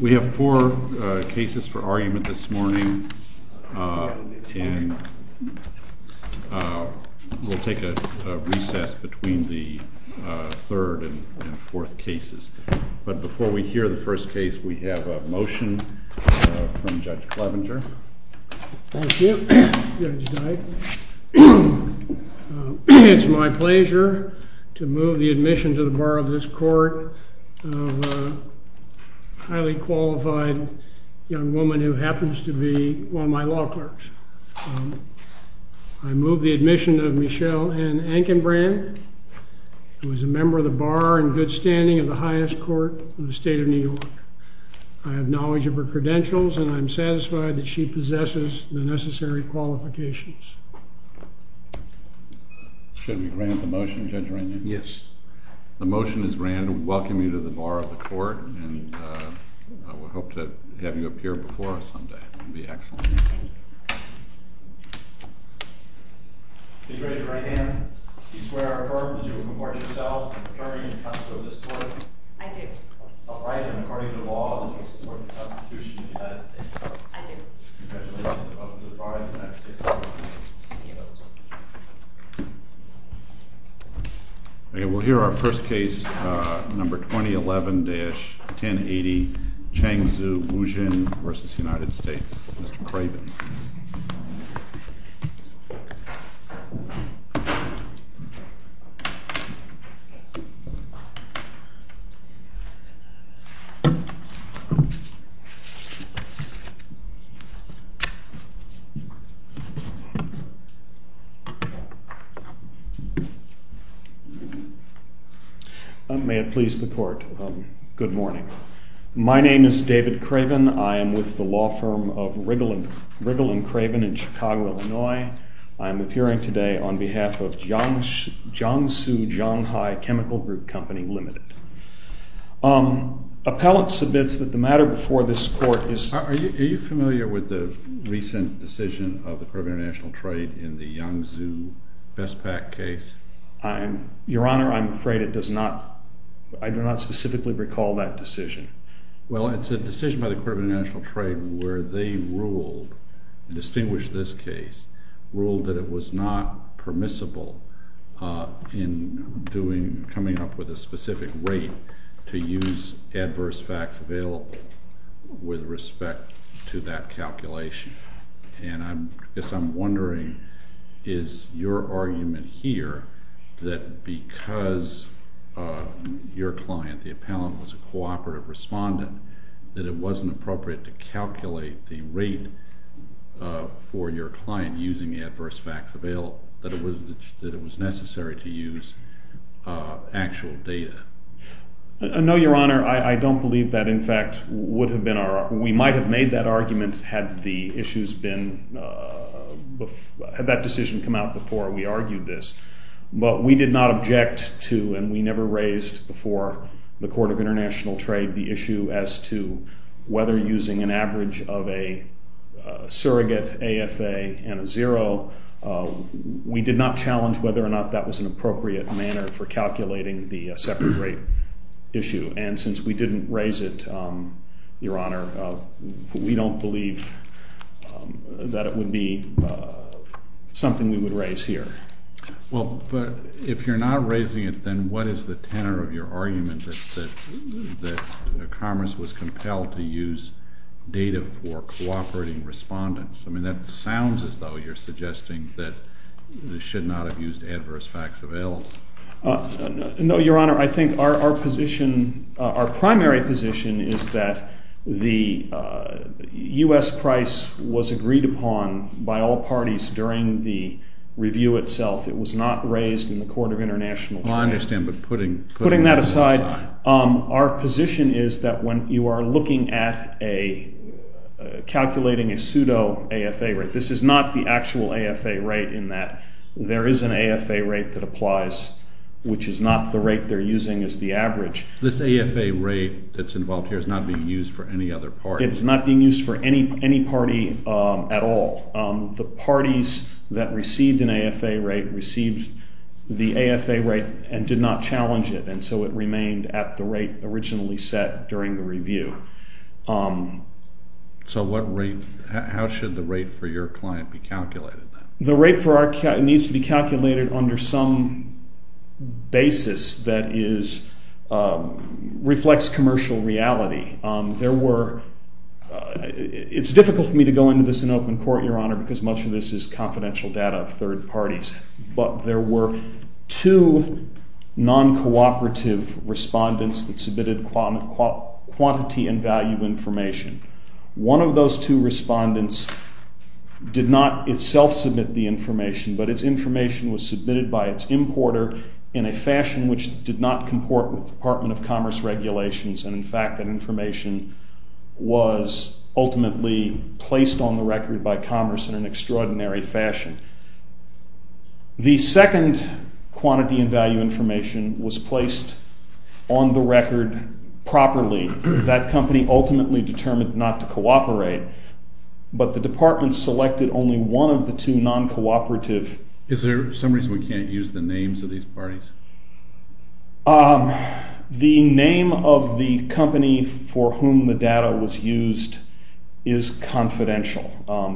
We have four cases for argument this morning, and we'll take a recess between the third and fourth cases. But before we hear the first case, we have a motion from Judge Clevenger. Thank you, Judge Dyke. It's my pleasure to move the admission to the Bar of this Court of a highly qualified young woman who happens to be one of my law clerks. I move the admission of Michelle Ann Ankenbrand, who is a member of the Bar in good standing of the highest court in the state of New York. I have knowledge of her credentials, and I'm satisfied that she possesses the necessary qualifications. Should we grant the motion, Judge Ranham? Yes. The motion is granted. We welcome you to the Bar of the Court, and we hope to have you appear before us someday. It would be excellent. Thank you. Judge Ranham, you swear or affirm that you will comport yourself in the purview and custody of this court? I do. All right, and according to the law, you support the Constitution of the United States. I do. Congratulations. You're welcome to the Bar. Okay, we'll hear our first case, number 2011-1080, Cheng Tzu, Wujin v. United States. Mr. Craven. May it please the Court, good morning. My name is David Craven. I am with the law firm of Riggle & Craven in Chicago, Illinois. I am appearing today on behalf of Jiangsu Jianghai Chemical Group Company, Ltd. Appellant submits that the matter before this court is— Are you familiar with the recent decision of the Court of International Trade in the Yang Tzu Best Pack case? Your Honor, I'm afraid I do not specifically recall that decision. Well, it's a decision by the Court of International Trade where they ruled—and distinguished this case— ruled that it was not permissible in coming up with a specific rate to use adverse facts available with respect to that calculation. And I guess I'm wondering, is your argument here that because your client, the appellant, was a cooperative respondent, that it wasn't appropriate to calculate the rate for your client using the adverse facts available, that it was necessary to use actual data? No, Your Honor. I don't believe that, in fact, would have been our—we might have made that argument had the issues been—had that decision come out before we argued this. But we did not object to, and we never raised before the Court of International Trade the issue as to whether using an average of a surrogate AFA and a zero, we did not challenge whether or not that was an appropriate manner for calculating the separate rate issue. And since we didn't raise it, Your Honor, we don't believe that it would be something we would raise here. Well, but if you're not raising it, then what is the tenor of your argument that Commerce was compelled to use data for cooperating respondents? I mean, that sounds as though you're suggesting that they should not have used adverse facts available. No, Your Honor. I think our position—our primary position is that the U.S. price was agreed upon by all parties during the review itself. It was not raised in the Court of International Trade. I understand, but putting— This is not the actual AFA rate in that there is an AFA rate that applies, which is not the rate they're using as the average. This AFA rate that's involved here is not being used for any other party. It's not being used for any party at all. The parties that received an AFA rate received the AFA rate and did not challenge it, and so it remained at the rate originally set during the review. So what rate—how should the rate for your client be calculated? The rate for our client needs to be calculated under some basis that is—reflects commercial reality. There were—it's difficult for me to go into this in open court, Your Honor, because much of this is confidential data of third parties. But there were two non-cooperative respondents that submitted quantity and value information. One of those two respondents did not itself submit the information, but its information was submitted by its importer in a fashion which did not comport with the Department of Commerce regulations. And, in fact, that information was ultimately placed on the record by Commerce in an extraordinary fashion. The second quantity and value information was placed on the record properly. That company ultimately determined not to cooperate, but the Department selected only one of the two non-cooperative— Is there some reason we can't use the names of these parties? The name of the company for whom the data was used is confidential,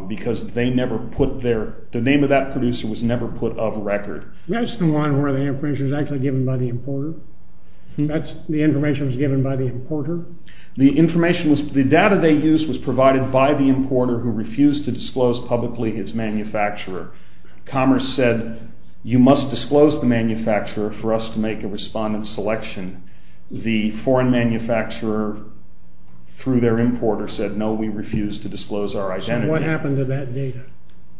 because they never put their—the name of that producer was never put off record. That's the one where the information was actually given by the importer. That's—the information was given by the importer. The information was—the data they used was provided by the importer who refused to disclose publicly his manufacturer. Commerce said, you must disclose the manufacturer for us to make a respondent selection. The foreign manufacturer, through their importer, said, no, we refuse to disclose our identity. So what happened to that data?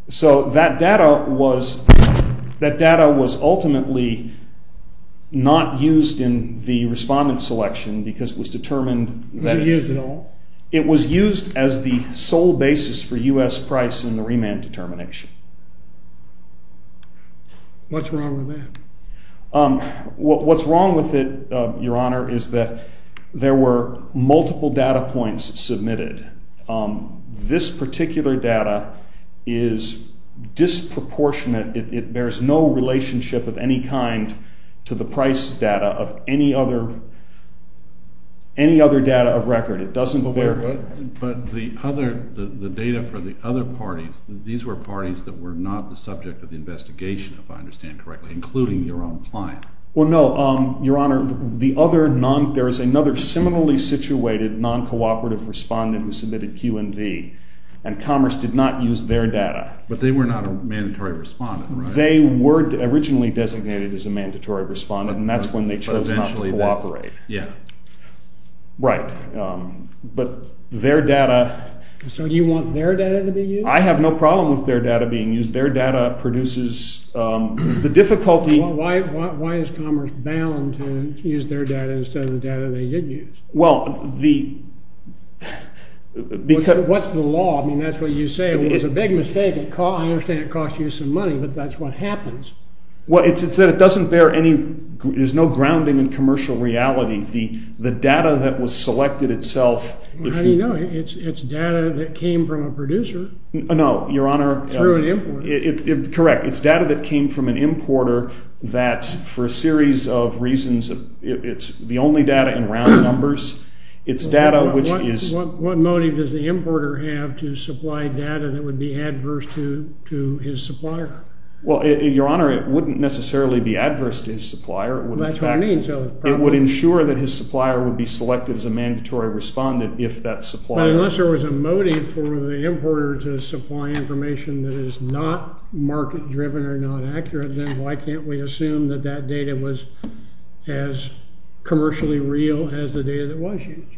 So that data was—that data was ultimately not used in the respondent selection because it was determined that it— Was it used at all? What's wrong with that? What's wrong with it, Your Honor, is that there were multiple data points submitted. This particular data is disproportionate. It bears no relationship of any kind to the price data of any other—any other data of record. It doesn't bear— But the other—the data for the other parties, these were parties that were not the subject of the investigation, if I understand correctly, including your own client. Well, no, Your Honor, the other non—there is another similarly situated non-cooperative respondent who submitted Q&V, and Commerce did not use their data. But they were not a mandatory respondent, right? They were originally designated as a mandatory respondent, and that's when they chose not to cooperate. But eventually they—yeah. Right. But their data— So you want their data to be used? I have no problem with their data being used. Their data produces the difficulty— Well, why is Commerce bound to use their data instead of the data they did use? Well, the— What's the law? I mean, that's what you say. It was a big mistake. I understand it costs you some money, but that's what happens. Well, it's that it doesn't bear any—there's no grounding in commercial reality. The data that was selected itself— How do you know? It's data that came from a producer. No, Your Honor. Through an importer. Correct. It's data that came from an importer that, for a series of reasons, it's the only data in round numbers. It's data which is— What motive does the importer have to supply data that would be adverse to his supplier? Well, Your Honor, it wouldn't necessarily be adverse to his supplier. That's what I mean. It would ensure that his supplier would be selected as a mandatory respondent if that supplier— But unless there was a motive for the importer to supply information that is not market-driven or not accurate, then why can't we assume that that data was as commercially real as the data that was used?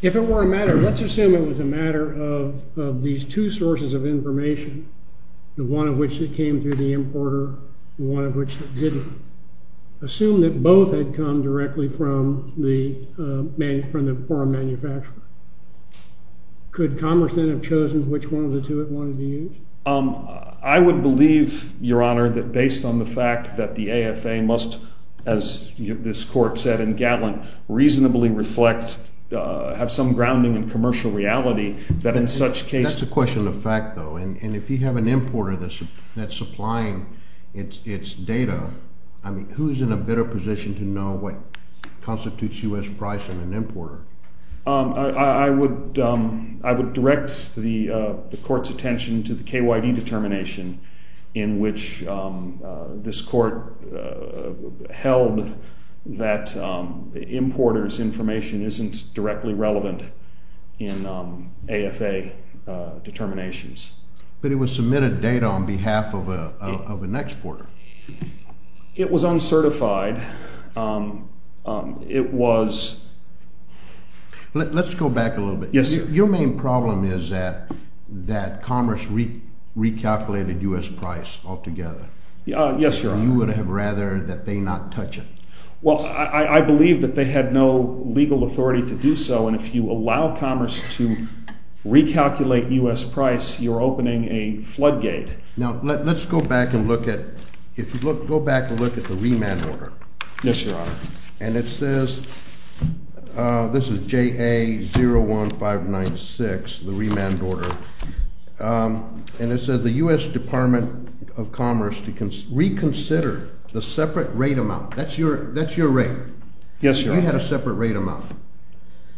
If it were a matter—let's assume it was a matter of these two sources of information, the one of which that came through the importer, the one of which that didn't. Assume that both had come directly from the foreign manufacturer. Could Commerce then have chosen which one of the two it wanted to use? I would believe, Your Honor, that based on the fact that the AFA must, as this Court said, and Gatlin reasonably reflect, have some grounding in commercial reality, that in such case— That's a question of fact, though, and if you have an importer that's supplying its data, I mean, who's in a better position to know what constitutes U.S. price of an importer? I would direct the Court's attention to the KYD determination in which this Court held that importer's information isn't directly relevant in AFA determinations. But it was submitted data on behalf of an exporter. It was uncertified. It was— Let's go back a little bit. Yes, sir. Your main problem is that Commerce recalculated U.S. price altogether. Yes, Your Honor. You would have rather that they not touch it. Well, I believe that they had no legal authority to do so, and if you allow Commerce to recalculate U.S. price, you're opening a floodgate. Now, let's go back and look at—go back and look at the remand order. Yes, Your Honor. And it says—this is JA01596, the remand order, and it says the U.S. Department of Commerce to reconsider the separate rate amount. That's your rate. Yes, Your Honor. We had a separate rate amount.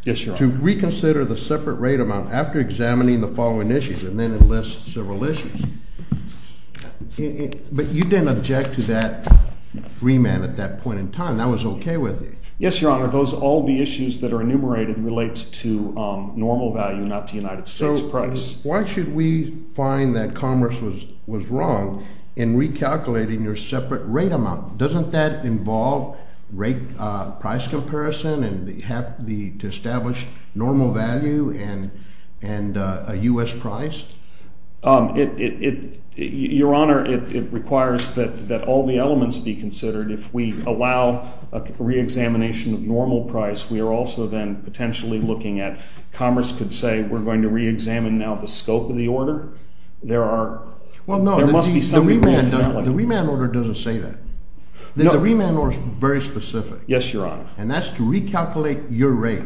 Yes, Your Honor. To reconsider the separate rate amount after examining the following issues, and then enlist civil issues. But you didn't object to that remand at that point in time. That was okay with you? Yes, Your Honor. Those—all the issues that are enumerated relate to normal value, not to United States price. So why should we find that Commerce was wrong in recalculating your separate rate amount? Doesn't that involve rate—price comparison and the—to establish normal value and a U.S. price? It—Your Honor, it requires that all the elements be considered. If we allow a reexamination of normal price, we are also then potentially looking at—Commerce could say, we're going to reexamine now the scope of the order. There are—there must be some— Well, no, the remand order doesn't say that. The remand order is very specific. Yes, Your Honor. And that's to recalculate your rate.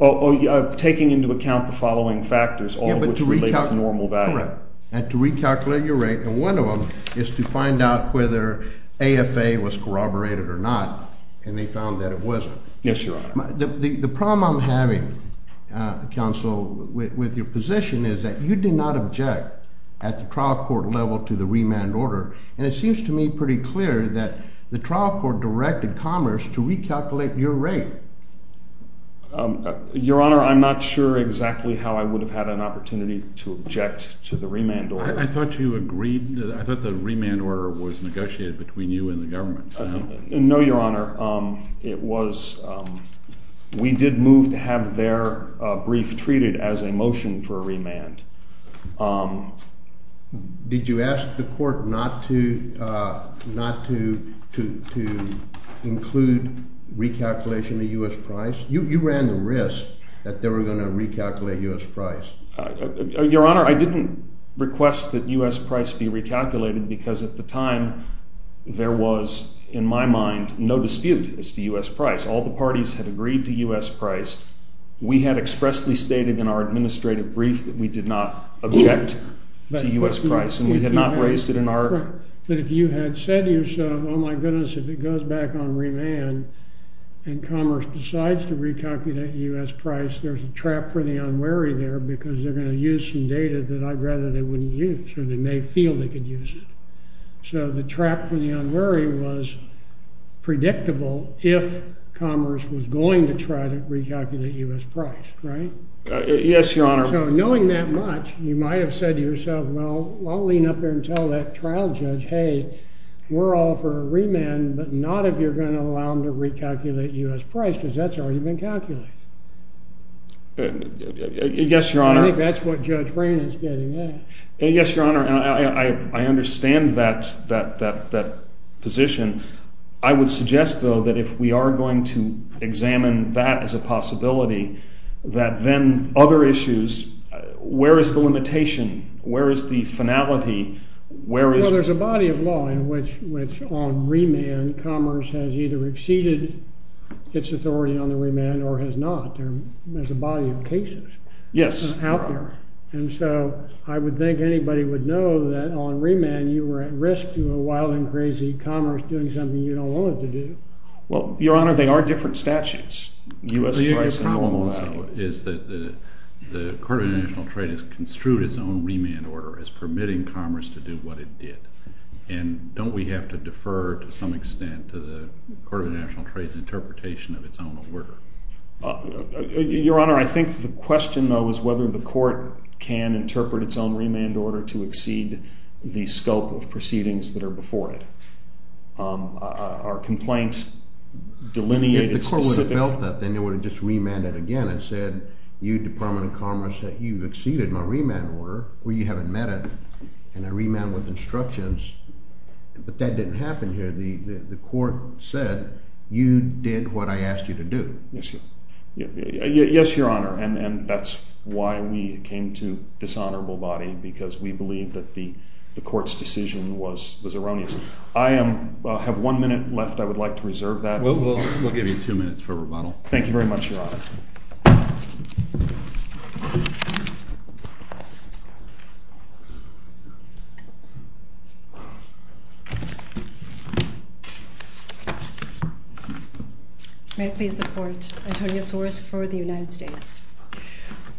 Oh, taking into account the following factors, all of which relate to normal value. Correct. And to recalculate your rate, and one of them is to find out whether AFA was corroborated or not, and they found that it wasn't. Yes, Your Honor. The problem I'm having, Counsel, with your position is that you did not object at the trial court level to the remand order. And it seems to me pretty clear that the trial court directed Commerce to recalculate your rate. Your Honor, I'm not sure exactly how I would have had an opportunity to object to the remand order. I thought you agreed—I thought the remand order was negotiated between you and the government. No, Your Honor. It was—we did move to have their brief treated as a motion for a remand. Did you ask the court not to include recalculation of U.S. price? You ran the risk that they were going to recalculate U.S. price. Your Honor, I didn't request that U.S. price be recalculated because at the time there was, in my mind, no dispute as to U.S. price. All the parties had agreed to U.S. price. We had expressly stated in our administrative brief that we did not object to U.S. price, and we had not raised it in our— But if you had said to yourself, oh, my goodness, if it goes back on remand and Commerce decides to recalculate U.S. price, there's a trap for the unwary there because they're going to use some data that I'd rather they wouldn't use, or they may feel they could use it. So the trap for the unwary was predictable if Commerce was going to try to recalculate U.S. price, right? Yes, Your Honor. So knowing that much, you might have said to yourself, well, I'll lean up there and tell that trial judge, hey, we're all for a remand, but not if you're going to allow them to recalculate U.S. price because that's already been calculated. Yes, Your Honor. I think that's what Judge Rain is getting at. Yes, Your Honor, I understand that position. I would suggest, though, that if we are going to examine that as a possibility, that then other issues, where is the limitation? Where is the finality? There's a body of law in which on remand Commerce has either exceeded its authority on the remand or has not. There's a body of cases out there. And so I would think anybody would know that on remand you were at risk to a wild and crazy Commerce doing something you don't want it to do. Well, Your Honor, they are different statutes. The only problem, though, is that the Court of International Trade has construed its own remand order as permitting Commerce to do what it did. And don't we have to defer to some extent to the Court of International Trade's interpretation of its own order? Your Honor, I think the question, though, is whether the court can interpret its own remand order to exceed the scope of proceedings that are before it. Our complaint delineated specific… If the court would have felt that, then it would have just remanded again and said, you, Department of Commerce, you've exceeded my remand order. Or you haven't met it. And I remand with instructions. But that didn't happen here. The court said, you did what I asked you to do. Yes, Your Honor. And that's why we came to this honorable body, because we believe that the court's decision was erroneous. I have one minute left. I would like to reserve that. We'll give you two minutes for rebuttal. Thank you very much, Your Honor. May it please the Court. Antonia Soros for the United States.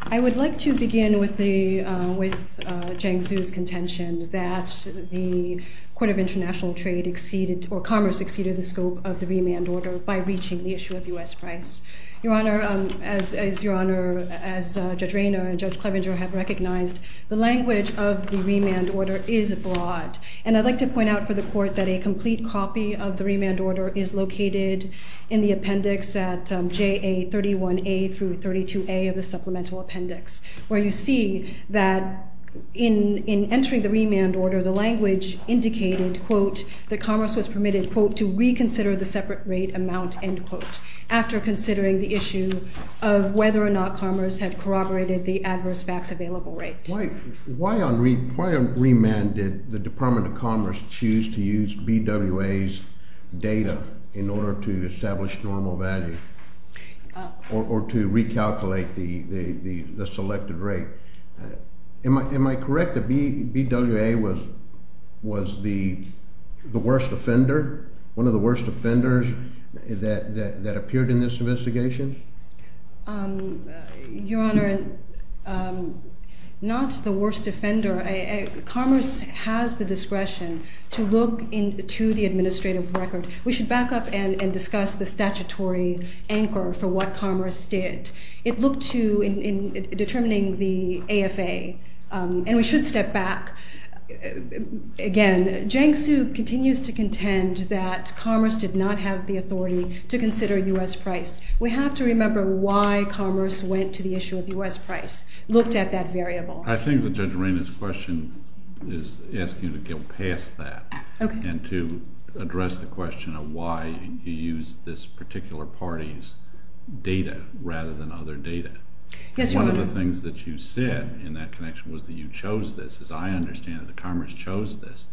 I would like to begin with Jiang Zhu's contention that the Court of International Trade exceeded or Commerce exceeded the scope of the remand order by reaching the issue of U.S. price. Your Honor, as Judge Rayner and Judge Clevenger have recognized, the language of the remand order is broad. And I'd like to point out for the Court that a complete copy of the remand order is located in the appendix at JA 31A through 32A of the supplemental appendix, where you see that in entering the remand order, the language indicated, quote, that Commerce was permitted, quote, to reconsider the separate rate amount, end quote, after considering the issue of whether or not Commerce had corroborated the adverse fax available rate. Why on remand did the Department of Commerce choose to use BWA's data in order to establish normal value or to recalculate the selected rate? Am I correct that BWA was the worst offender, one of the worst offenders that appeared in this investigation? Your Honor, not the worst offender. Commerce has the discretion to look into the administrative record. We should back up and discuss the statutory anchor for what Commerce did. It looked to determining the AFA, and we should step back. Again, Jiang Zhu continues to contend that Commerce did not have the authority to consider U.S. price. We have to remember why Commerce went to the issue of U.S. price, looked at that variable. I think that Judge Reina's question is asking to go past that and to address the question of why you used this particular party's data rather than other data. Yes, Your Honor. One of the things that you said in that connection was that you chose this. As I understand it, Commerce chose this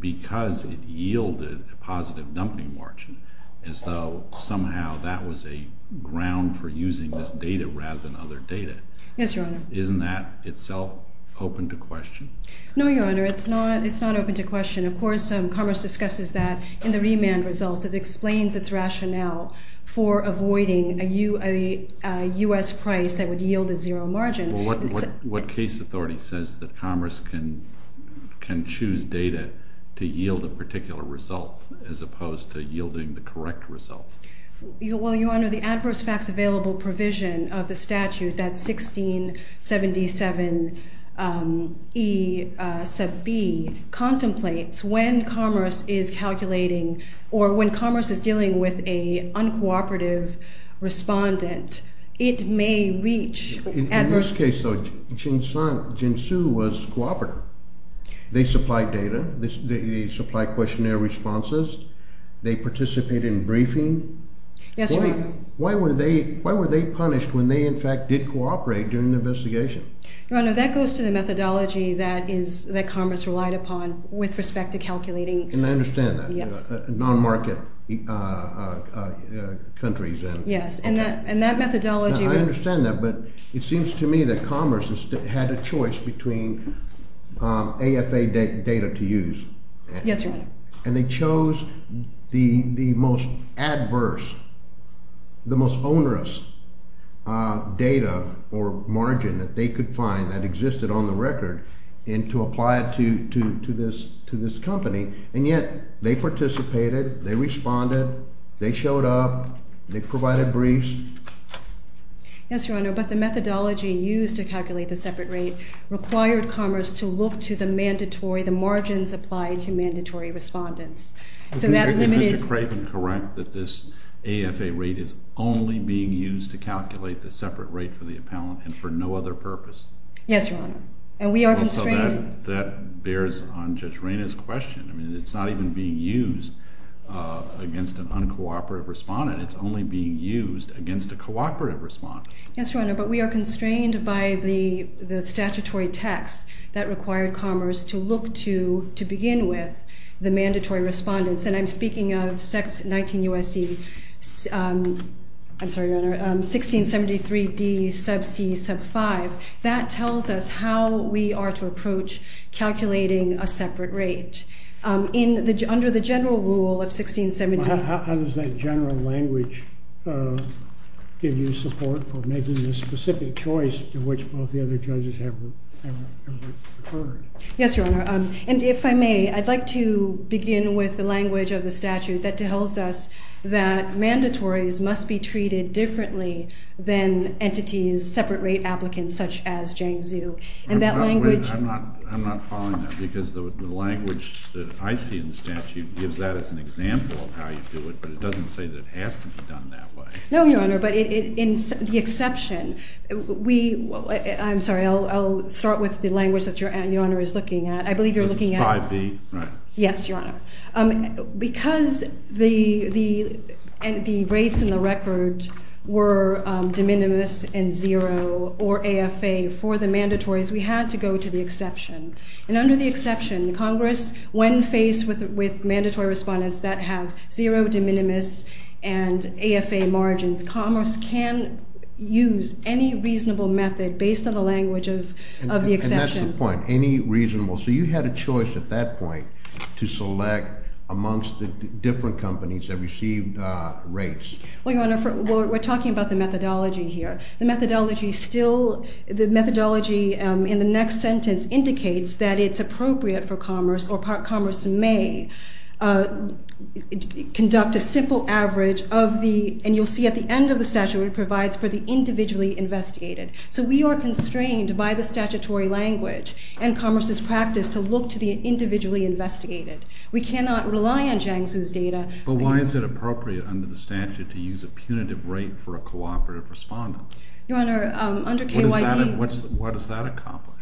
because it yielded a positive dumping margin, as though somehow that was a ground for using this data rather than other data. Yes, Your Honor. Isn't that itself open to question? No, Your Honor. It's not open to question. Of course, Commerce discusses that in the remand results. It explains its rationale for avoiding a U.S. price that would yield a zero margin. Well, what case authority says that Commerce can choose data to yield a particular result as opposed to yielding the correct result? Well, Your Honor, the adverse facts available provision of the statute, that's 1677E sub b, contemplates when Commerce is calculating or when Commerce is dealing with an uncooperative respondent, it may reach adverse facts. In this case, though, Jinsu was cooperative. They supplied data. They supplied questionnaire responses. They participated in briefing. Yes, Your Honor. Why were they punished when they, in fact, did cooperate during the investigation? Your Honor, that goes to the methodology that Commerce relied upon with respect to calculating. And I understand that. Yes. Non-market countries. Yes, and that methodology… I understand that, but it seems to me that Commerce had a choice between AFA data to use. Yes, Your Honor. And they chose the most adverse, the most onerous data or margin that they could find that existed on the record and to apply it to this company, and yet they participated, they responded, they showed up, they provided briefs. Yes, Your Honor, but the methodology used to calculate the separate rate required Commerce to look to the mandatory, the margins applied to mandatory respondents. So that limited… Is Mr. Craven correct that this AFA rate is only being used to calculate the separate rate for the appellant and for no other purpose? Yes, Your Honor. And we are constrained… That bears on Judge Reyna's question. I mean, it's not even being used against an uncooperative respondent. It's only being used against a cooperative respondent. Yes, Your Honor, but we are constrained by the statutory text that required Commerce to look to, to begin with, the mandatory respondents. And I'm speaking of 19 U.S.C., I'm sorry, Your Honor, 1673 D sub C sub 5. That tells us how we are to approach calculating a separate rate. In the, under the general rule of 1673… How does that general language give you support for making this specific choice to which both the other judges have referred? Yes, Your Honor. And if I may, I'd like to begin with the language of the statute that tells us that mandatories must be treated differently than entities, separate rate applicants such as Jiang Zhu. And that language… I'm not following that because the language that I see in the statute gives that as an example of how you do it, but it doesn't say that it has to be done that way. No, Your Honor, but in the exception, we, I'm sorry, I'll start with the language that Your Honor is looking at. I believe you're looking at… Because it's 5B, right? Yes, Your Honor. Because the rates in the record were de minimis and zero or AFA for the mandatories, we had to go to the exception. And under the exception, Congress, when faced with mandatory respondents that have zero de minimis and AFA margins, Commerce can use any reasonable method based on the language of the exception. And that's the point, any reasonable. So you had a choice at that point to select amongst the different companies that received rates. Well, Your Honor, we're talking about the methodology here. The methodology still, the methodology in the next sentence indicates that it's appropriate for Commerce or Commerce may conduct a simple average of the, and you'll see at the end of the statute it provides for the individually investigated. So we are constrained by the statutory language and Commerce's practice to look to the individually investigated. We cannot rely on Jiangsu's data. But why is it appropriate under the statute to use a punitive rate for a cooperative respondent? Your Honor, under KYD… What does that accomplish?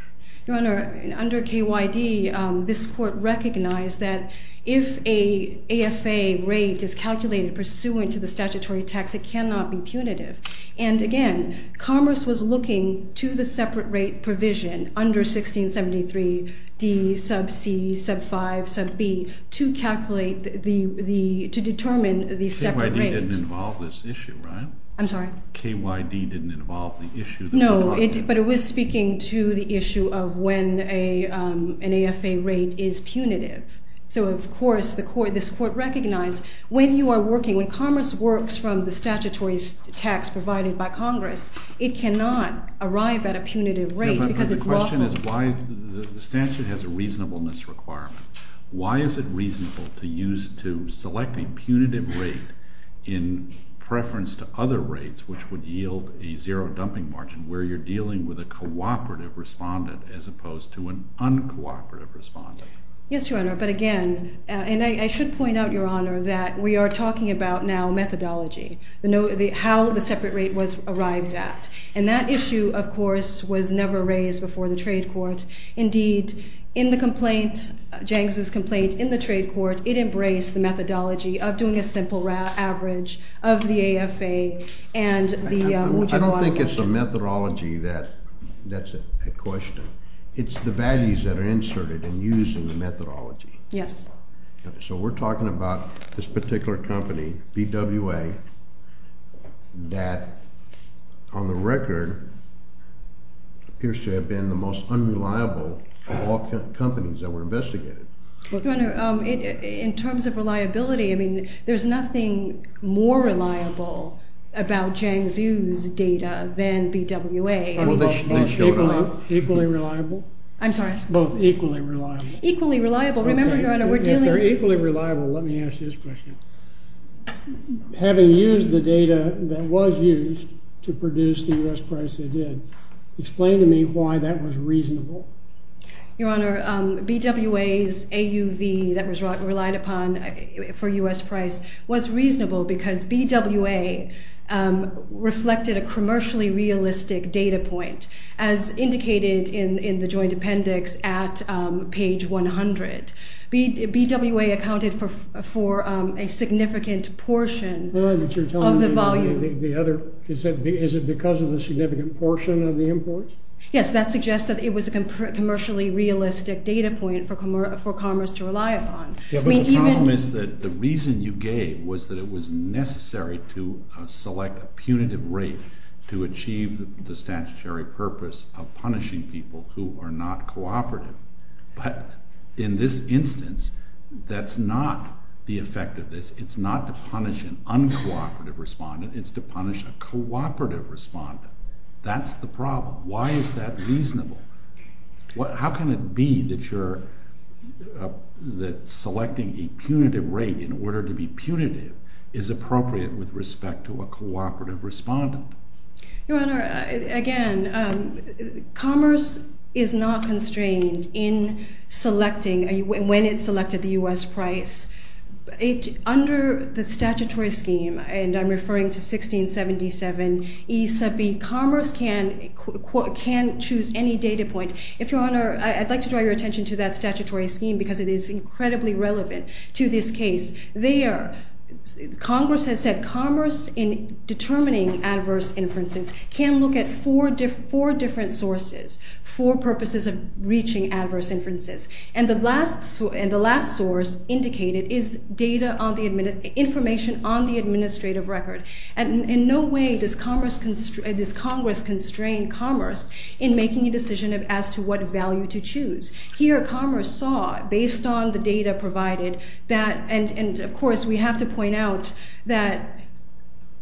Your Honor, under KYD, this court recognized that if an AFA rate is calculated pursuant to the statutory text, it cannot be punitive. And again, Commerce was looking to the separate rate provision under 1673D, sub C, sub 5, sub B, to calculate the, to determine the separate rate. KYD didn't involve this issue, right? I'm sorry? KYD didn't involve the issue. No, but it was speaking to the issue of when an AFA rate is punitive. So, of course, the court, this court recognized when you are working, when Commerce works from the statutory text provided by Congress, it cannot arrive at a punitive rate because it's lawful. No, but the question is why, the statute has a reasonableness requirement. Why is it reasonable to use, to select a punitive rate in preference to other rates which would yield a zero dumping margin where you're dealing with a cooperative respondent as opposed to an uncooperative respondent? Yes, Your Honor. But again, and I should point out, Your Honor, that we are talking about now methodology. How the separate rate was arrived at. And that issue, of course, was never raised before the trade court. Indeed, in the complaint, Jiangsu's complaint in the trade court, it embraced the methodology of doing a simple average of the AFA and the— I don't think it's the methodology that's at question. It's the values that are inserted and used in the methodology. Yes. So we're talking about this particular company, BWA, that on the record appears to have been the most unreliable of all companies that were investigated. Your Honor, in terms of reliability, I mean, there's nothing more reliable about Jiangsu's data than BWA. Equally reliable? I'm sorry? Both equally reliable. Equally reliable. Remember, Your Honor, we're dealing— If they're equally reliable, let me ask this question. Having used the data that was used to produce the U.S. price they did, explain to me why that was reasonable. Your Honor, BWA's AUV that was relied upon for U.S. price was reasonable because BWA reflected a commercially realistic data point, as indicated in the joint appendix at page 100. BWA accounted for a significant portion of the volume. Is it because of the significant portion of the imports? Yes, that suggests that it was a commercially realistic data point for Commerce to rely upon. Yeah, but the problem is that the reason you gave was that it was necessary to select a punitive rate to achieve the statutory purpose of punishing people who are not cooperative. But in this instance, that's not the effect of this. It's not to punish an uncooperative respondent. It's to punish a cooperative respondent. That's the problem. Why is that reasonable? How can it be that selecting a punitive rate in order to be punitive is appropriate with respect to a cooperative respondent? Your Honor, again, Commerce is not constrained in selecting—when it selected the U.S. price. Under the statutory scheme, and I'm referring to 1677E sub B, Commerce can choose any data point. If Your Honor, I'd like to draw your attention to that statutory scheme because it is incredibly relevant to this case. There, Congress has said Commerce, in determining adverse inferences, can look at four different sources for purposes of reaching adverse inferences. And the last source indicated is information on the administrative record. And in no way does Congress constrain Commerce in making a decision as to what value to choose. Here, Commerce saw, based on the data provided, that—and, of course, we have to point out that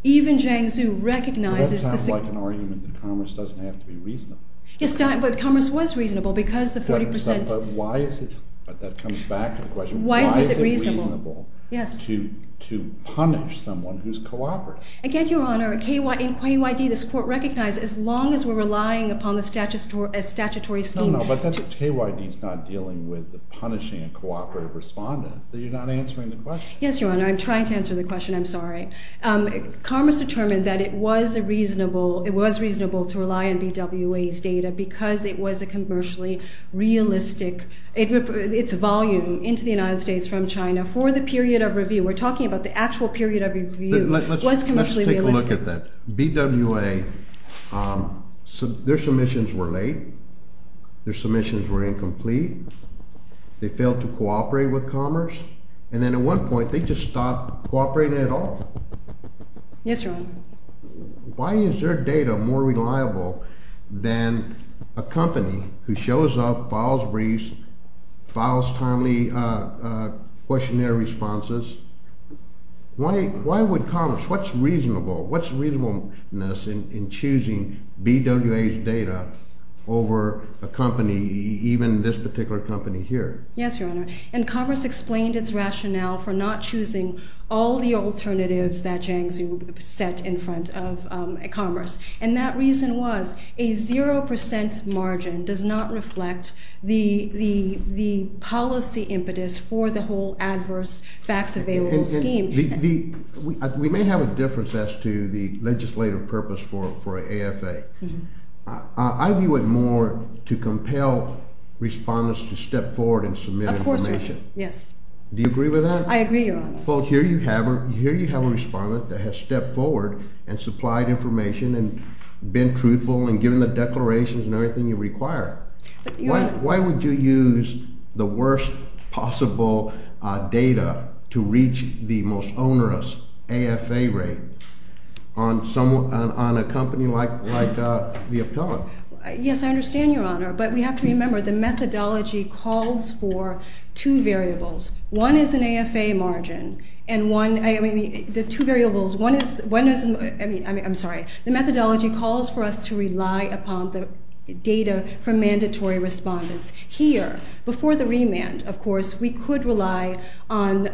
even Jiangsu recognizes— But that sounds like an argument that Commerce doesn't have to be reasonable. Yes, but Commerce was reasonable because the 40%— But why is it—but that comes back to the question— Why is it reasonable? Why is it reasonable to punish someone who's cooperative? Again, Your Honor, in KYD, this Court recognizes, as long as we're relying upon the statutory scheme— Oh, no, but that's—KYD's not dealing with punishing a cooperative respondent. You're not answering the question. Yes, Your Honor, I'm trying to answer the question. I'm sorry. Commerce determined that it was reasonable to rely on BWA's data because it was a commercially realistic— its volume into the United States from China for the period of review. We're talking about the actual period of review was commercially realistic. Let's take a look at that. BWA, their submissions were late. They failed to cooperate with Commerce. And then at one point, they just stopped cooperating at all. Yes, Your Honor. Why is their data more reliable than a company who shows up, files briefs, files timely questionnaire responses? Why would Commerce—what's reasonable? What's reasonableness in choosing BWA's data over a company, even this particular company here? Yes, Your Honor, and Commerce explained its rationale for not choosing all the alternatives that Jiangzi set in front of Commerce. And that reason was a 0 percent margin does not reflect the policy impetus for the whole adverse facts available scheme. We may have a difference as to the legislative purpose for an AFA. I view it more to compel respondents to step forward and submit information. Of course, Your Honor. Yes. Do you agree with that? I agree, Your Honor. Well, here you have a respondent that has stepped forward and supplied information and been truthful and given the declarations and everything you require. Why would you use the worst possible data to reach the most onerous AFA rate on a company like the appellant? Yes, I understand, Your Honor, but we have to remember the methodology calls for two variables. One is an AFA margin and one—I mean, the two variables. One is—I mean, I'm sorry. The methodology calls for us to rely upon the data from mandatory respondents. Here, before the remand, of course, we could rely on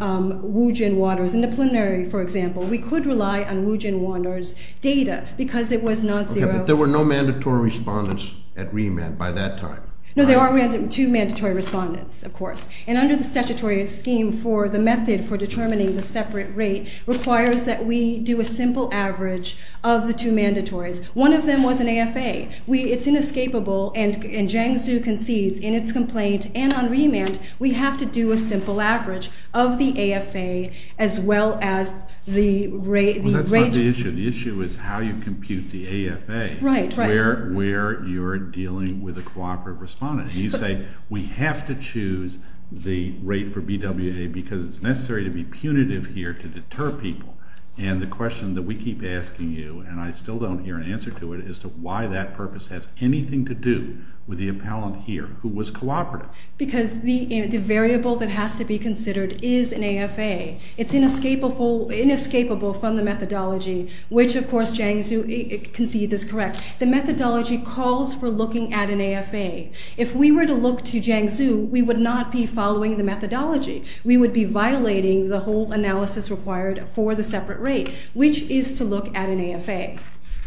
Wujin Waters. In the plenary, for example, we could rely on Wujin Waters' data because it was not zero. Okay, but there were no mandatory respondents at remand by that time. No, there are two mandatory respondents, of course. And under the statutory scheme for the method for determining the separate rate requires that we do a simple average of the two mandatories. One of them was an AFA. It's inescapable, and Jiang Xu concedes in its complaint and on remand we have to do a simple average of the AFA as well as the rate— Well, that's not the issue. The issue is how you compute the AFA where you're dealing with a cooperative respondent. You say we have to choose the rate for BWA because it's necessary to be punitive here to deter people. And the question that we keep asking you, and I still don't hear an answer to it, is to why that purpose has anything to do with the appellant here who was cooperative. Because the variable that has to be considered is an AFA. It's inescapable from the methodology, which, of course, Jiang Xu concedes is correct. The methodology calls for looking at an AFA. If we were to look to Jiang Xu, we would not be following the methodology. We would be violating the whole analysis required for the separate rate, which is to look at an AFA.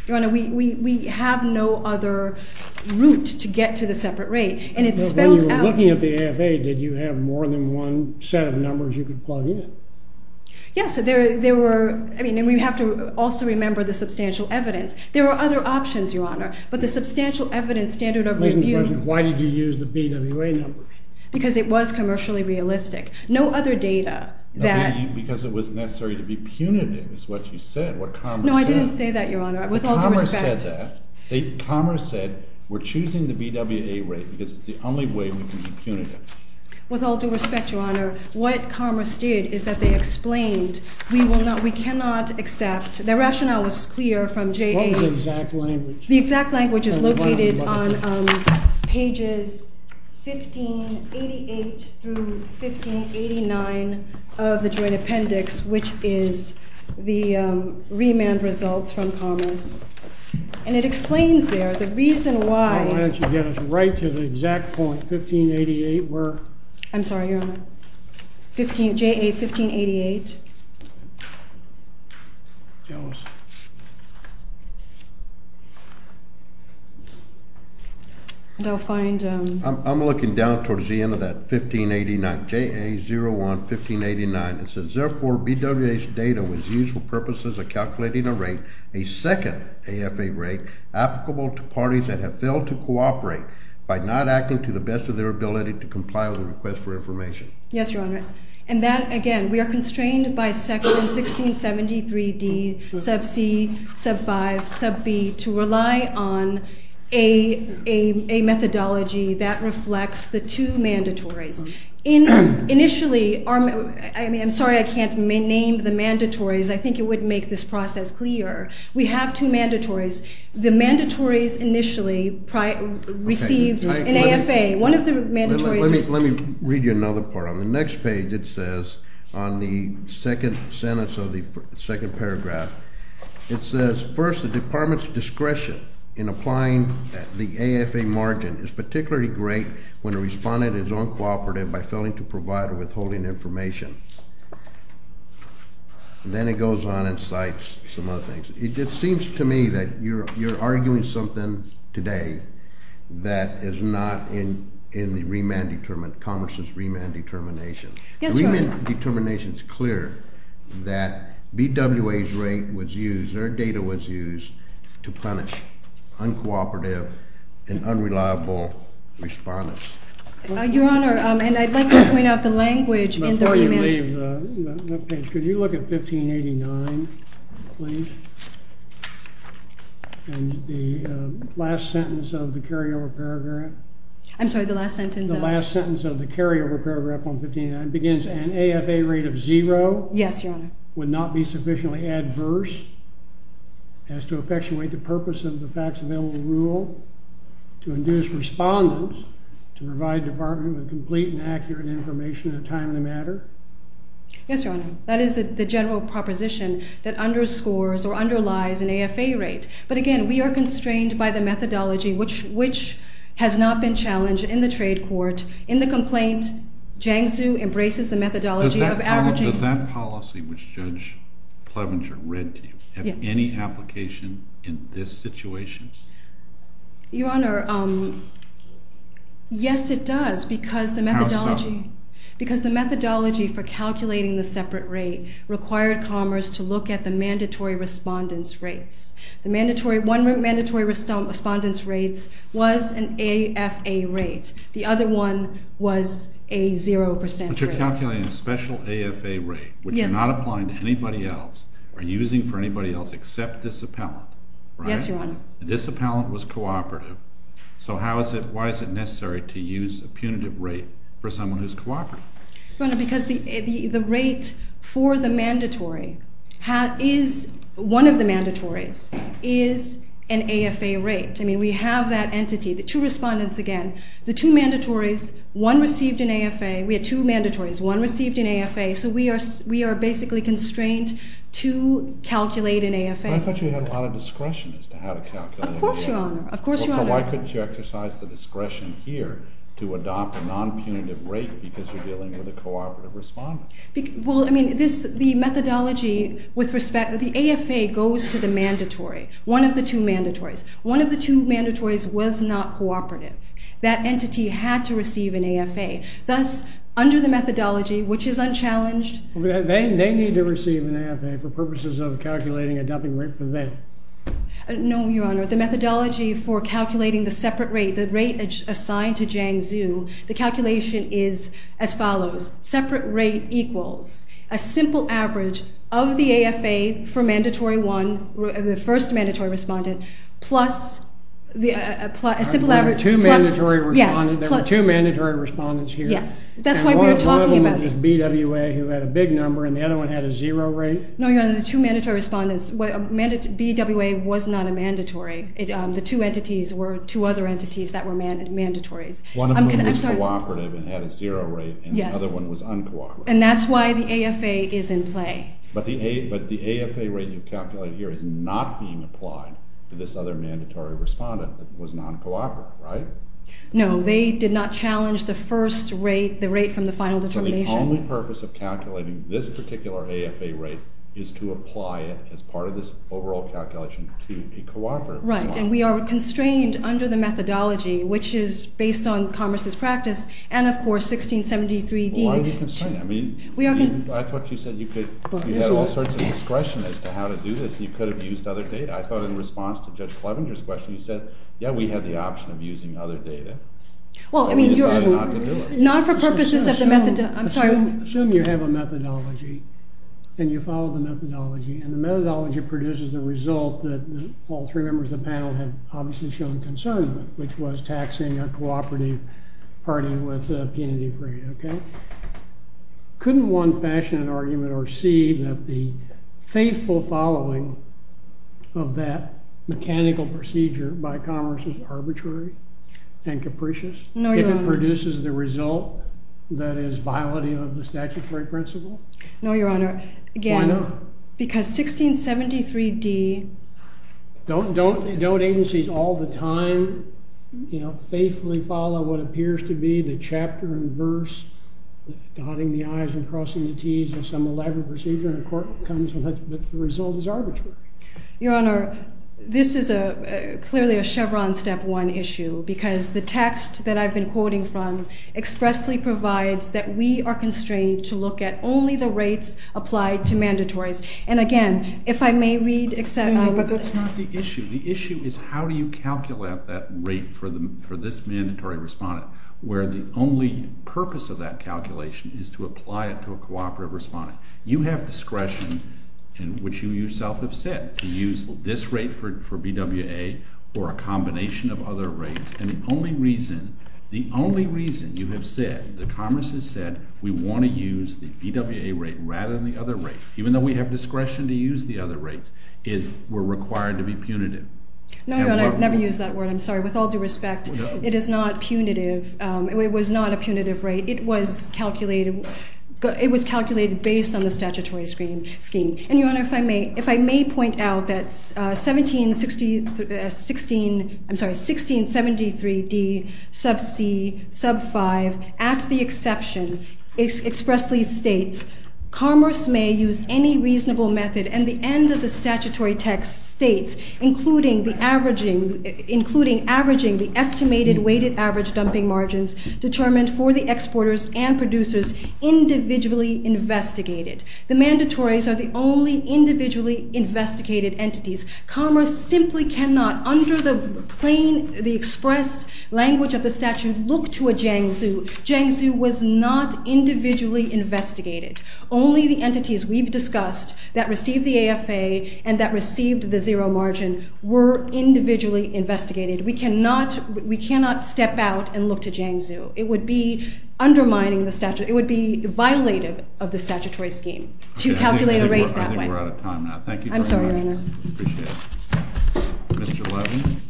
Your Honor, we have no other route to get to the separate rate, and it's spelled out— When you were looking at the AFA, did you have more than one set of numbers you could plug in? Yes, there were—I mean, and we have to also remember the substantial evidence. There are other options, Your Honor, but the substantial evidence standard of review— Why did you use the BWA numbers? Because it was commercially realistic. No other data that— Because it was necessary to be punitive is what you said, what Commerce said. No, I didn't say that, Your Honor. With all due respect— Commerce said that. Commerce said we're choosing the BWA rate because it's the only way we can be punitive. With all due respect, Your Honor, what Commerce did is that they explained we cannot accept—their rationale was clear from JA— What was the exact language? —which is located on pages 1588 through 1589 of the Joint Appendix, which is the remand results from Commerce. And it explains there the reason why— Why don't you get us right to the exact point, 1588, where— I'm sorry, Your Honor. 15—JA 1588. Jones. And I'll find— I'm looking down towards the end of that, 1589—JA 01 1589. It says, therefore, BWA's data was used for purposes of calculating a rate—a second AFA rate—applicable to parties that have failed to cooperate by not acting to the best of their ability to comply with a request for information. Yes, Your Honor. And that, again, we are constrained by Section 1673D, Sub C, Sub 5, Sub B, to rely on a methodology that reflects the two mandatories. Initially, our—I mean, I'm sorry I can't name the mandatories. I think it would make this process clearer. We have two mandatories. The mandatories initially received an AFA. One of the mandatories— Let me read you another part. On the next page, it says, on the second sentence of the second paragraph, it says, First, the Department's discretion in applying the AFA margin is particularly great when a respondent is uncooperative by failing to provide or withholding information. Then it goes on and cites some other things. It just seems to me that you're arguing something today that is not in the remand—Commerce's remand determination. Yes, Your Honor. The remand determination is clear that BWA's rate was used—their data was used to punish uncooperative and unreliable respondents. Your Honor, and I'd like to point out the language in the remand— Before you leave that page, could you look at 1589, please? And the last sentence of the carryover paragraph— I'm sorry, the last sentence of— The last sentence of the carryover paragraph on 1589 begins, An AFA rate of zero— Yes, Your Honor. Would not be sufficiently adverse as to effectuate the purpose of the facts-available rule to induce respondents to provide the Department with complete and accurate information at a time and a matter. Yes, Your Honor. That is the general proposition that underscores or underlies an AFA rate. But again, we are constrained by the methodology, which has not been challenged in the trade court. In the complaint, Jiangsu embraces the methodology of averaging— Does that policy, which Judge Plevenger read to you, have any application in this situation? Your Honor, yes, it does because the methodology— How so? Because the methodology for calculating the separate rate required Commerce to look at the mandatory respondents' rates. One of the mandatory respondents' rates was an AFA rate. The other one was a zero percent rate. But you're calculating a special AFA rate, which you're not applying to anybody else or using for anybody else except this appellant, right? Yes, Your Honor. This appellant was cooperative. So how is it—why is it necessary to use a punitive rate for someone who's cooperative? Your Honor, because the rate for the mandatory is—one of the mandatories is an AFA rate. I mean, we have that entity. The two respondents, again, the two mandatories, one received an AFA. We had two mandatories. One received an AFA. So we are basically constrained to calculate an AFA. But I thought you had a lot of discretion as to how to calculate— Of course, Your Honor. Of course, Your Honor. So why couldn't you exercise the discretion here to adopt a non-punitive rate because you're dealing with a cooperative respondent? Well, I mean, this—the methodology with respect—the AFA goes to the mandatory, one of the two mandatories. One of the two mandatories was not cooperative. That entity had to receive an AFA. Thus, under the methodology, which is unchallenged— They need to receive an AFA for purposes of calculating a dumping rate for them. No, Your Honor. The methodology for calculating the separate rate, the rate assigned to Jiang Zhu, the calculation is as follows. Separate rate equals a simple average of the AFA for mandatory one, the first mandatory respondent, plus a simple average— There were two mandatory respondents here. Yes. That's why we are talking about— One was BWA, who had a big number, and the other one had a zero rate. No, Your Honor. The two mandatory respondents—BWA was not a mandatory. The two entities were two other entities that were mandatories. One of them was cooperative and had a zero rate, and the other one was uncooperative. And that's why the AFA is in play. But the AFA rate you calculated here is not being applied to this other mandatory respondent that was non-cooperative, right? No, they did not challenge the first rate, the rate from the final determination. So the only purpose of calculating this particular AFA rate is to apply it as part of this overall calculation to a cooperative. Right, and we are constrained under the methodology, which is based on Congress's practice and, of course, 1673d— Why are you constrained? I mean, I thought you said you could—you had all sorts of discretion as to how to do this, and you could have used other data. I thought in response to Judge Clevenger's question, you said, yeah, we had the option of using other data, and we decided not to do it. Not for purposes of the—I'm sorry. Assume you have a methodology, and you follow the methodology, and the methodology produces the result that all three members of the panel have obviously shown concern with, which was taxing a cooperative party with a punitive rate, okay? Couldn't one fashion an argument or see that the faithful following of that mechanical procedure by Congress is arbitrary and capricious? No, Your Honor. And that produces the result that is violating of the statutory principle? No, Your Honor. Why not? Again, because 1673d— Don't agencies all the time, you know, faithfully follow what appears to be the chapter and verse, dotting the i's and crossing the t's of some elaborate procedure, and a court comes and the result is arbitrary? Your Honor, this is clearly a Chevron step one issue because the text that I've been quoting from expressly provides that we are constrained to look at only the rates applied to mandatories. And again, if I may read— But that's not the issue. The issue is how do you calculate that rate for this mandatory respondent where the only purpose of that calculation is to apply it to a cooperative respondent? You have discretion, which you yourself have said, to use this rate for BWA or a combination of other rates, and the only reason you have said, the Congress has said, we want to use the BWA rate rather than the other rate, even though we have discretion to use the other rates, is we're required to be punitive. No, Your Honor, I've never used that word. I'm sorry. With all due respect, it is not punitive. It was not a punitive rate. It was calculated based on the statutory scheme. And, Your Honor, if I may point out that 1673d sub c sub 5, at the exception, expressly states, commerce may use any reasonable method, and the end of the statutory text states, including averaging the estimated weighted average dumping margins determined for the exporters and producers individually investigated. The mandatories are the only individually investigated entities. Commerce simply cannot, under the plain, the express language of the statute, look to a Jiangsu. Jiangsu was not individually investigated. Only the entities we've discussed that received the AFA and that received the zero margin were individually investigated. We cannot, we cannot step out and look to Jiangsu. It would be undermining the statute. It would be violative of the statutory scheme to calculate a rate that way. I think we're out of time now. Thank you very much. I'm sorry, Your Honor. I appreciate it. Mr. Levin.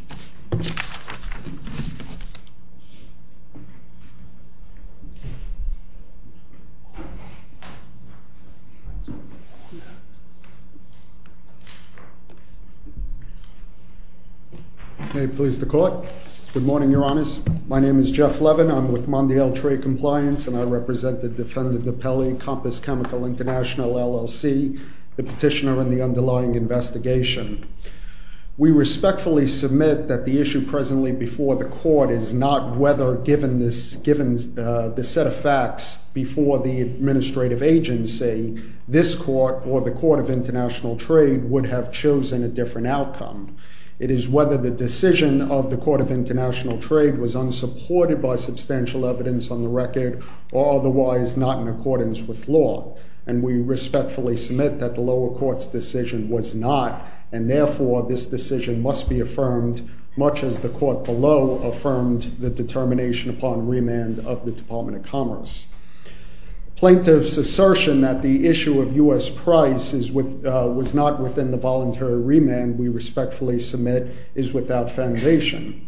May it please the Court. Good morning, Your Honors. My name is Jeff Levin. I'm with Mondial Trade Compliance, and I represent the defendant, the Pelley Compass Chemical International LLC, the petitioner in the underlying investigation. We respectfully submit that the issue presently before the Court is not whether, given this, given the set of facts before the administrative agency, this Court or the Court of International Trade would have chosen a different outcome. It is whether the decision of the Court of International Trade was unsupported by substantial evidence on the record or otherwise not in accordance with law. And we respectfully submit that the lower court's decision was not, and therefore this decision must be affirmed, much as the court below affirmed the determination upon remand of the Department of Commerce. Plaintiff's assertion that the issue of U.S. price was not within the voluntary remand, we respectfully submit, is without foundation.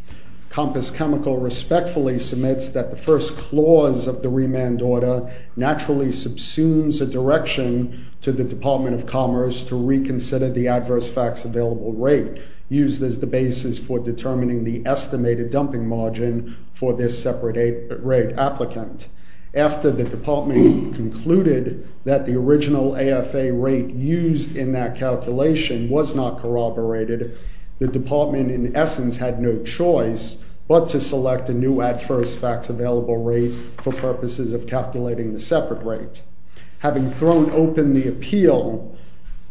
Compass Chemical respectfully submits that the first clause of the remand order naturally subsumes a direction to the Department of Commerce to reconsider the adverse facts available rate used as the basis for determining the estimated dumping margin for this separate rate applicant. After the department concluded that the original AFA rate used in that calculation was not corroborated, the department in essence had no choice but to select a new adverse facts available rate for purposes of calculating the separate rate. Having thrown open to appeal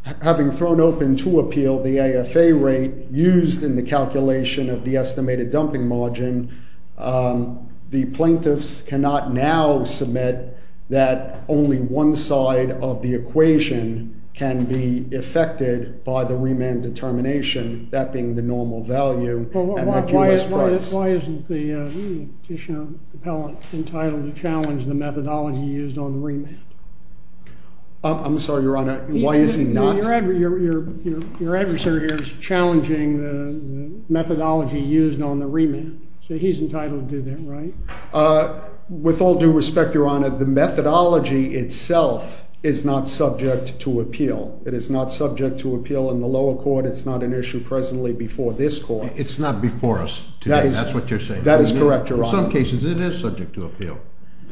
the AFA rate used in the calculation of the estimated dumping margin, the plaintiffs cannot now submit that only one side of the equation can be affected by the remand determination, that being the normal value and the U.S. price. Why isn't the petitioner entitled to challenge the methodology used on remand? I'm sorry, Your Honor, why is he not? Your adversary here is challenging the methodology used on the remand. So he's entitled to that, right? With all due respect, Your Honor, the methodology itself is not subject to appeal. It is not subject to appeal in the lower court. It's not an issue presently before this court. It's not before us. That is correct, Your Honor. In some cases, it is subject to appeal.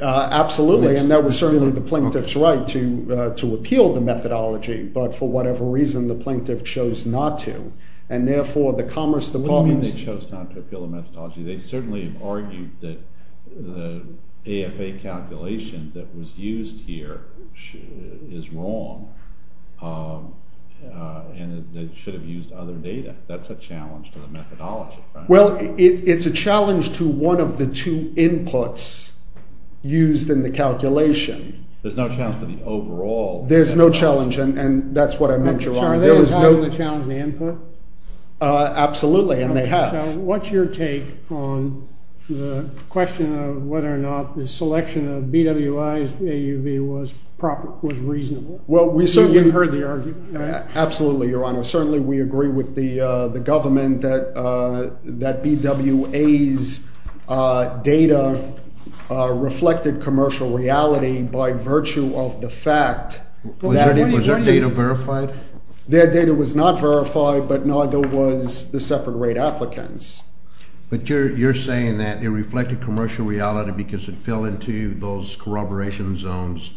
Absolutely, and that was certainly the plaintiff's right to appeal the methodology. But for whatever reason, the plaintiff chose not to. And therefore, the Commerce Department… What do you mean they chose not to appeal the methodology? They certainly have argued that the AFA calculation that was used here is wrong and that it should have used other data. That's a challenge to the methodology. Well, it's a challenge to one of the two inputs used in the calculation. There's no challenge to the overall… There's no challenge, and that's what I meant, Your Honor. So are they entitled to challenge the input? Absolutely, and they have. What's your take on the question of whether or not the selection of BWA's AUV was reasonable? You've heard the argument, right? Absolutely, Your Honor. Certainly we agree with the government that BWA's data reflected commercial reality by virtue of the fact that… Was their data verified? Their data was not verified, but neither was the separate rate applicants. But you're saying that it reflected commercial reality because it fell into those corroboration zones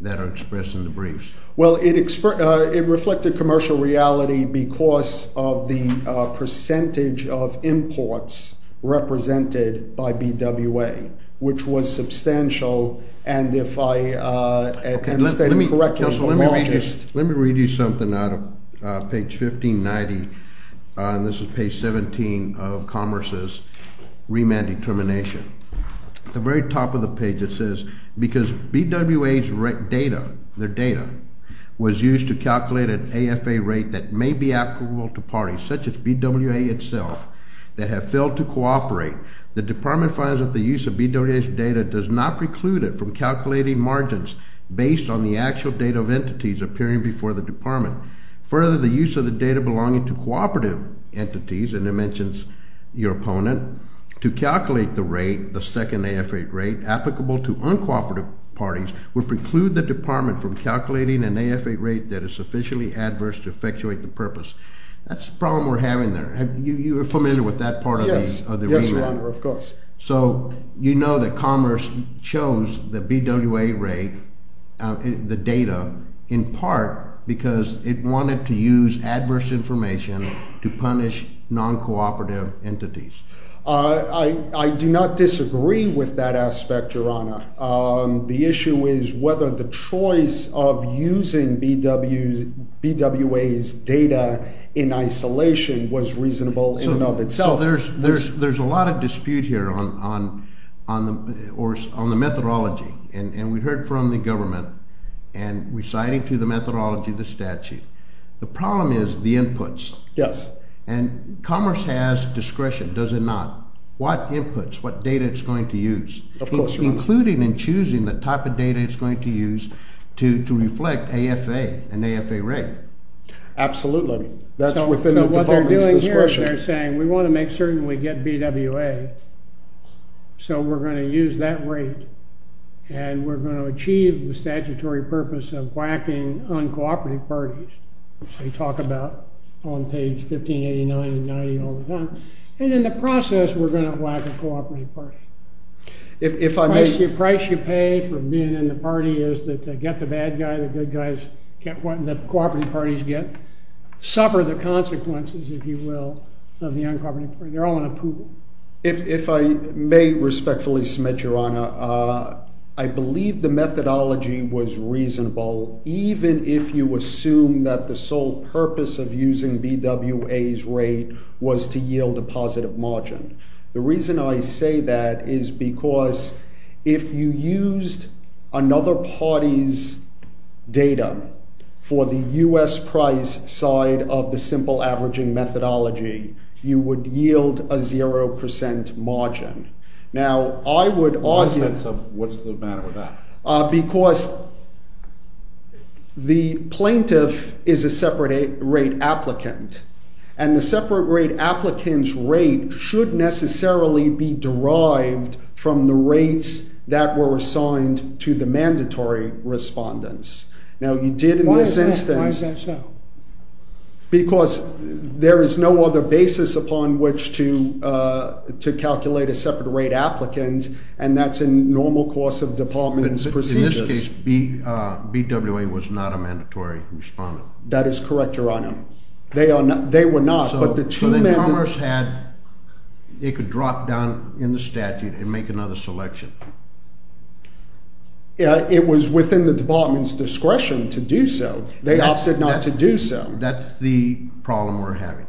that are expressed in the briefs. Well, it reflected commercial reality because of the percentage of imports represented by BWA, which was substantial, and if I understand you correctly, the largest… Let me read you something out of page 1590. This is page 17 of Commerce's remand determination. At the very top of the page it says, because BWA's data was used to calculate an AFA rate that may be applicable to parties, such as BWA itself, that have failed to cooperate, the Department finds that the use of BWA's data does not preclude it from calculating margins based on the actual data of entities appearing before the Department. Further, the use of the data belonging to cooperative entities, and it mentions your opponent, to calculate the rate, the second AFA rate, applicable to uncooperative parties, would preclude the Department from calculating an AFA rate that is sufficiently adverse to effectuate the purpose. That's the problem we're having there. You're familiar with that part of the remand? Yes, Your Honor, of course. So, you know that Commerce chose the BWA rate, the data, in part because it wanted to use adverse information to punish non-cooperative entities. I do not disagree with that aspect, Your Honor. The issue is whether the choice of using BWA's data in isolation was reasonable in and of itself. So, there's a lot of dispute here on the methodology, and we heard from the government, and reciting to the methodology the statute. The problem is the inputs. Yes. And Commerce has discretion, does it not? What inputs, what data is it going to use? Of course, Your Honor. Including and choosing the type of data it's going to use to reflect AFA, an AFA rate. Absolutely. That's within the Department's discretion. So, what they're doing here is they're saying, we want to make certain we get BWA, so we're going to use that rate, and we're going to achieve the statutory purpose of whacking uncooperative parties, which they talk about on page 1589 and 90 all the time, and in the process, we're going to whack a cooperative party. The price you pay for being in the party is to get the bad guy, the good guys get what the cooperative parties get, suffer the consequences, if you will, of the uncooperative parties. They're all in a pool. If I may respectfully submit, Your Honor, I believe the methodology was reasonable, even if you assume that the sole purpose of using BWA's rate was to yield a positive margin. The reason I say that is because if you used another party's data for the U.S. price side of the simple averaging methodology, you would yield a 0% margin. Now, I would argue— What's the matter with that? Because the plaintiff is a separate rate applicant, and the separate rate applicant's rate should necessarily be derived from the rates that were assigned to the mandatory respondents. Now, you did in this instance— Why is that so? Because there is no other basis upon which to calculate a separate rate applicant, and that's in normal course of department's procedures. In this case, BWA was not a mandatory respondent. That is correct, Your Honor. They were not, but the two— So, the economist had— It could drop down in the statute and make another selection. It was within the department's discretion to do so. They opted not to do so. That's the problem we're having.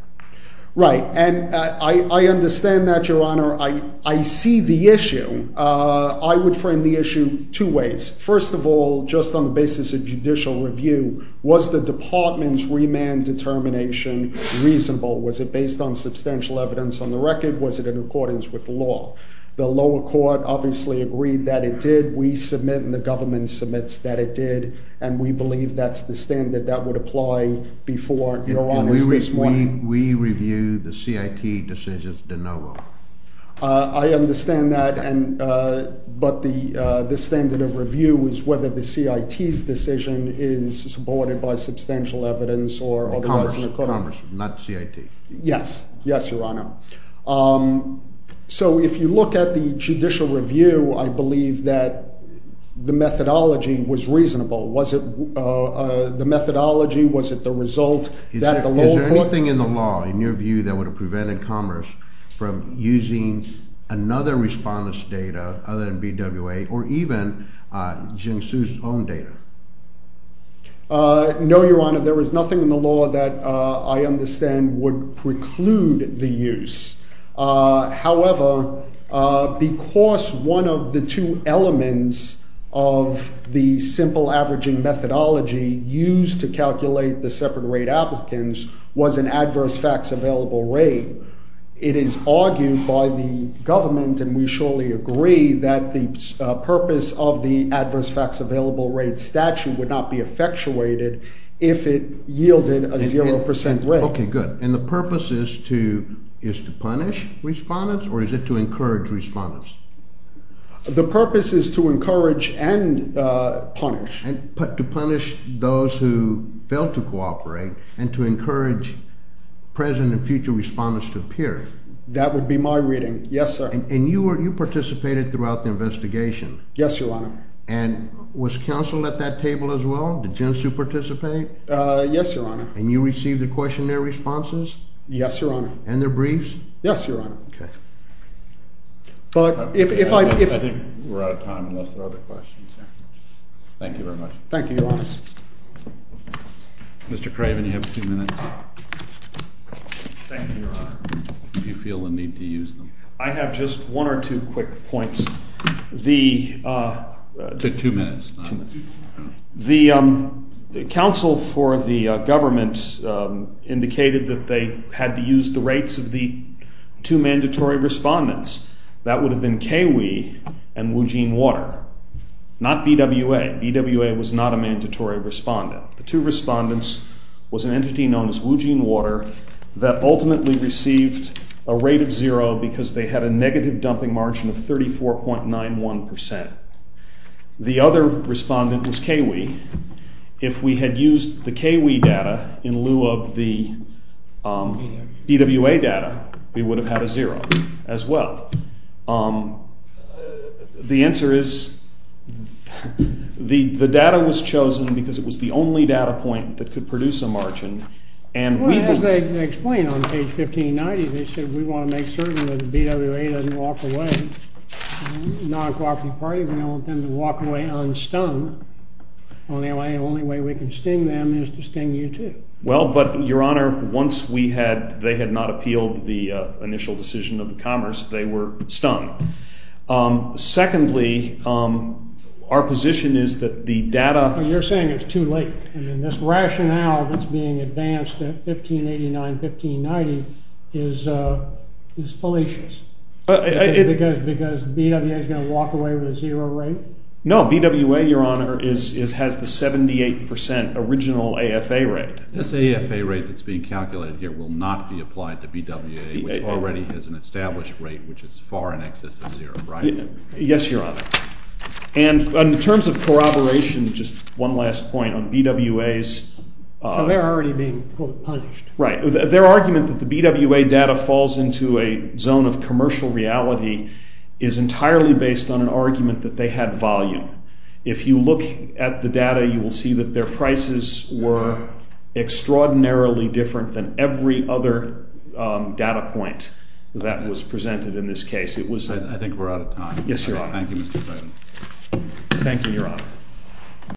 Right, and I understand that, Your Honor. I see the issue. I would frame the issue two ways. First of all, just on the basis of judicial review, was the department's remand determination reasonable? Was it based on substantial evidence on the record? Was it in accordance with the law? The lower court obviously agreed that it did. We submit and the government submits that it did, and we believe that's the standard that would apply before, Your Honor, this one. We review the CIT decision de novo. I understand that, but the standard of review is whether the CIT's decision is supported by substantial evidence or otherwise— Commerce, not CIT. Yes, yes, Your Honor. So, if you look at the judicial review, I believe that the methodology was reasonable. Was it the methodology? Was it the result that the lower court— Is there anything in the law, in your view, that would have prevented Commerce from using another respondent's data other than BWA or even Geng Su's own data? No, Your Honor. There was nothing in the law that I understand would preclude the use. However, because one of the two elements of the simple averaging methodology used to calculate the separate rate applicants was an adverse facts available rate, it is argued by the government, and we surely agree, that the purpose of the adverse facts available rate statute would not be effectuated if it yielded a 0% rate. Okay, good. And the purpose is to punish respondents, or is it to encourage respondents? The purpose is to encourage and punish. To punish those who fail to cooperate and to encourage present and future respondents to appear. That would be my reading. Yes, sir. And you participated throughout the investigation. Yes, Your Honor. And was counsel at that table as well? Did Geng Su participate? Yes, Your Honor. And you received the questionnaire responses? Yes, Your Honor. And their briefs? Yes, Your Honor. Okay. But if I... I think we're out of time unless there are other questions. Thank you very much. Thank you, Your Honor. Mr. Craven, you have two minutes. Thank you, Your Honor. If you feel the need to use them. I have just one or two quick points. The... Two minutes. The counsel for the government indicated that they had to use the rates of the two mandatory respondents. That would have been KWI and Woojin Water. Not BWA. BWA was not a mandatory respondent. The two respondents was an entity known as Woojin Water that ultimately received a rate of zero because they had a negative dumping margin of 34.91%. The other respondent was KWI. If we had used the KWI data in lieu of the BWA data, we would have had a zero as well. The answer is the data was chosen because it was the only data point that could produce a margin and we... As they explained on page 1590, they said we want to make certain that the BWA doesn't walk away non-cooperative party. We don't want them to walk away unstung. The only way we can sting them is to sting you too. Well, but, Your Honor, once we had... they had not appealed the initial decision of the Commerce, they were stung. Secondly, our position is that the data... Your Honor, you're saying it's too late. I mean this rationale that's being advanced at 1589-1590 is fallacious. Because BWA is going to walk away with a zero rate? No, BWA, Your Honor, has the 78% original AFA rate. This AFA rate that's being calculated here will not be applied to BWA which already has an established rate which is far in excess of zero, right? Yes, Your Honor. And in terms of corroboration, just one last point on BWA's... So they're already being, quote, punished. Right. Their argument that the BWA data falls into a zone of commercial reality is entirely based on an argument that they had volume. If you look at the data, you will see that their prices were extraordinarily different than every other data point that was presented in this case. I think we're out of time. Yes, Your Honor. Thank you, Mr. President. Thank you, Your Honor.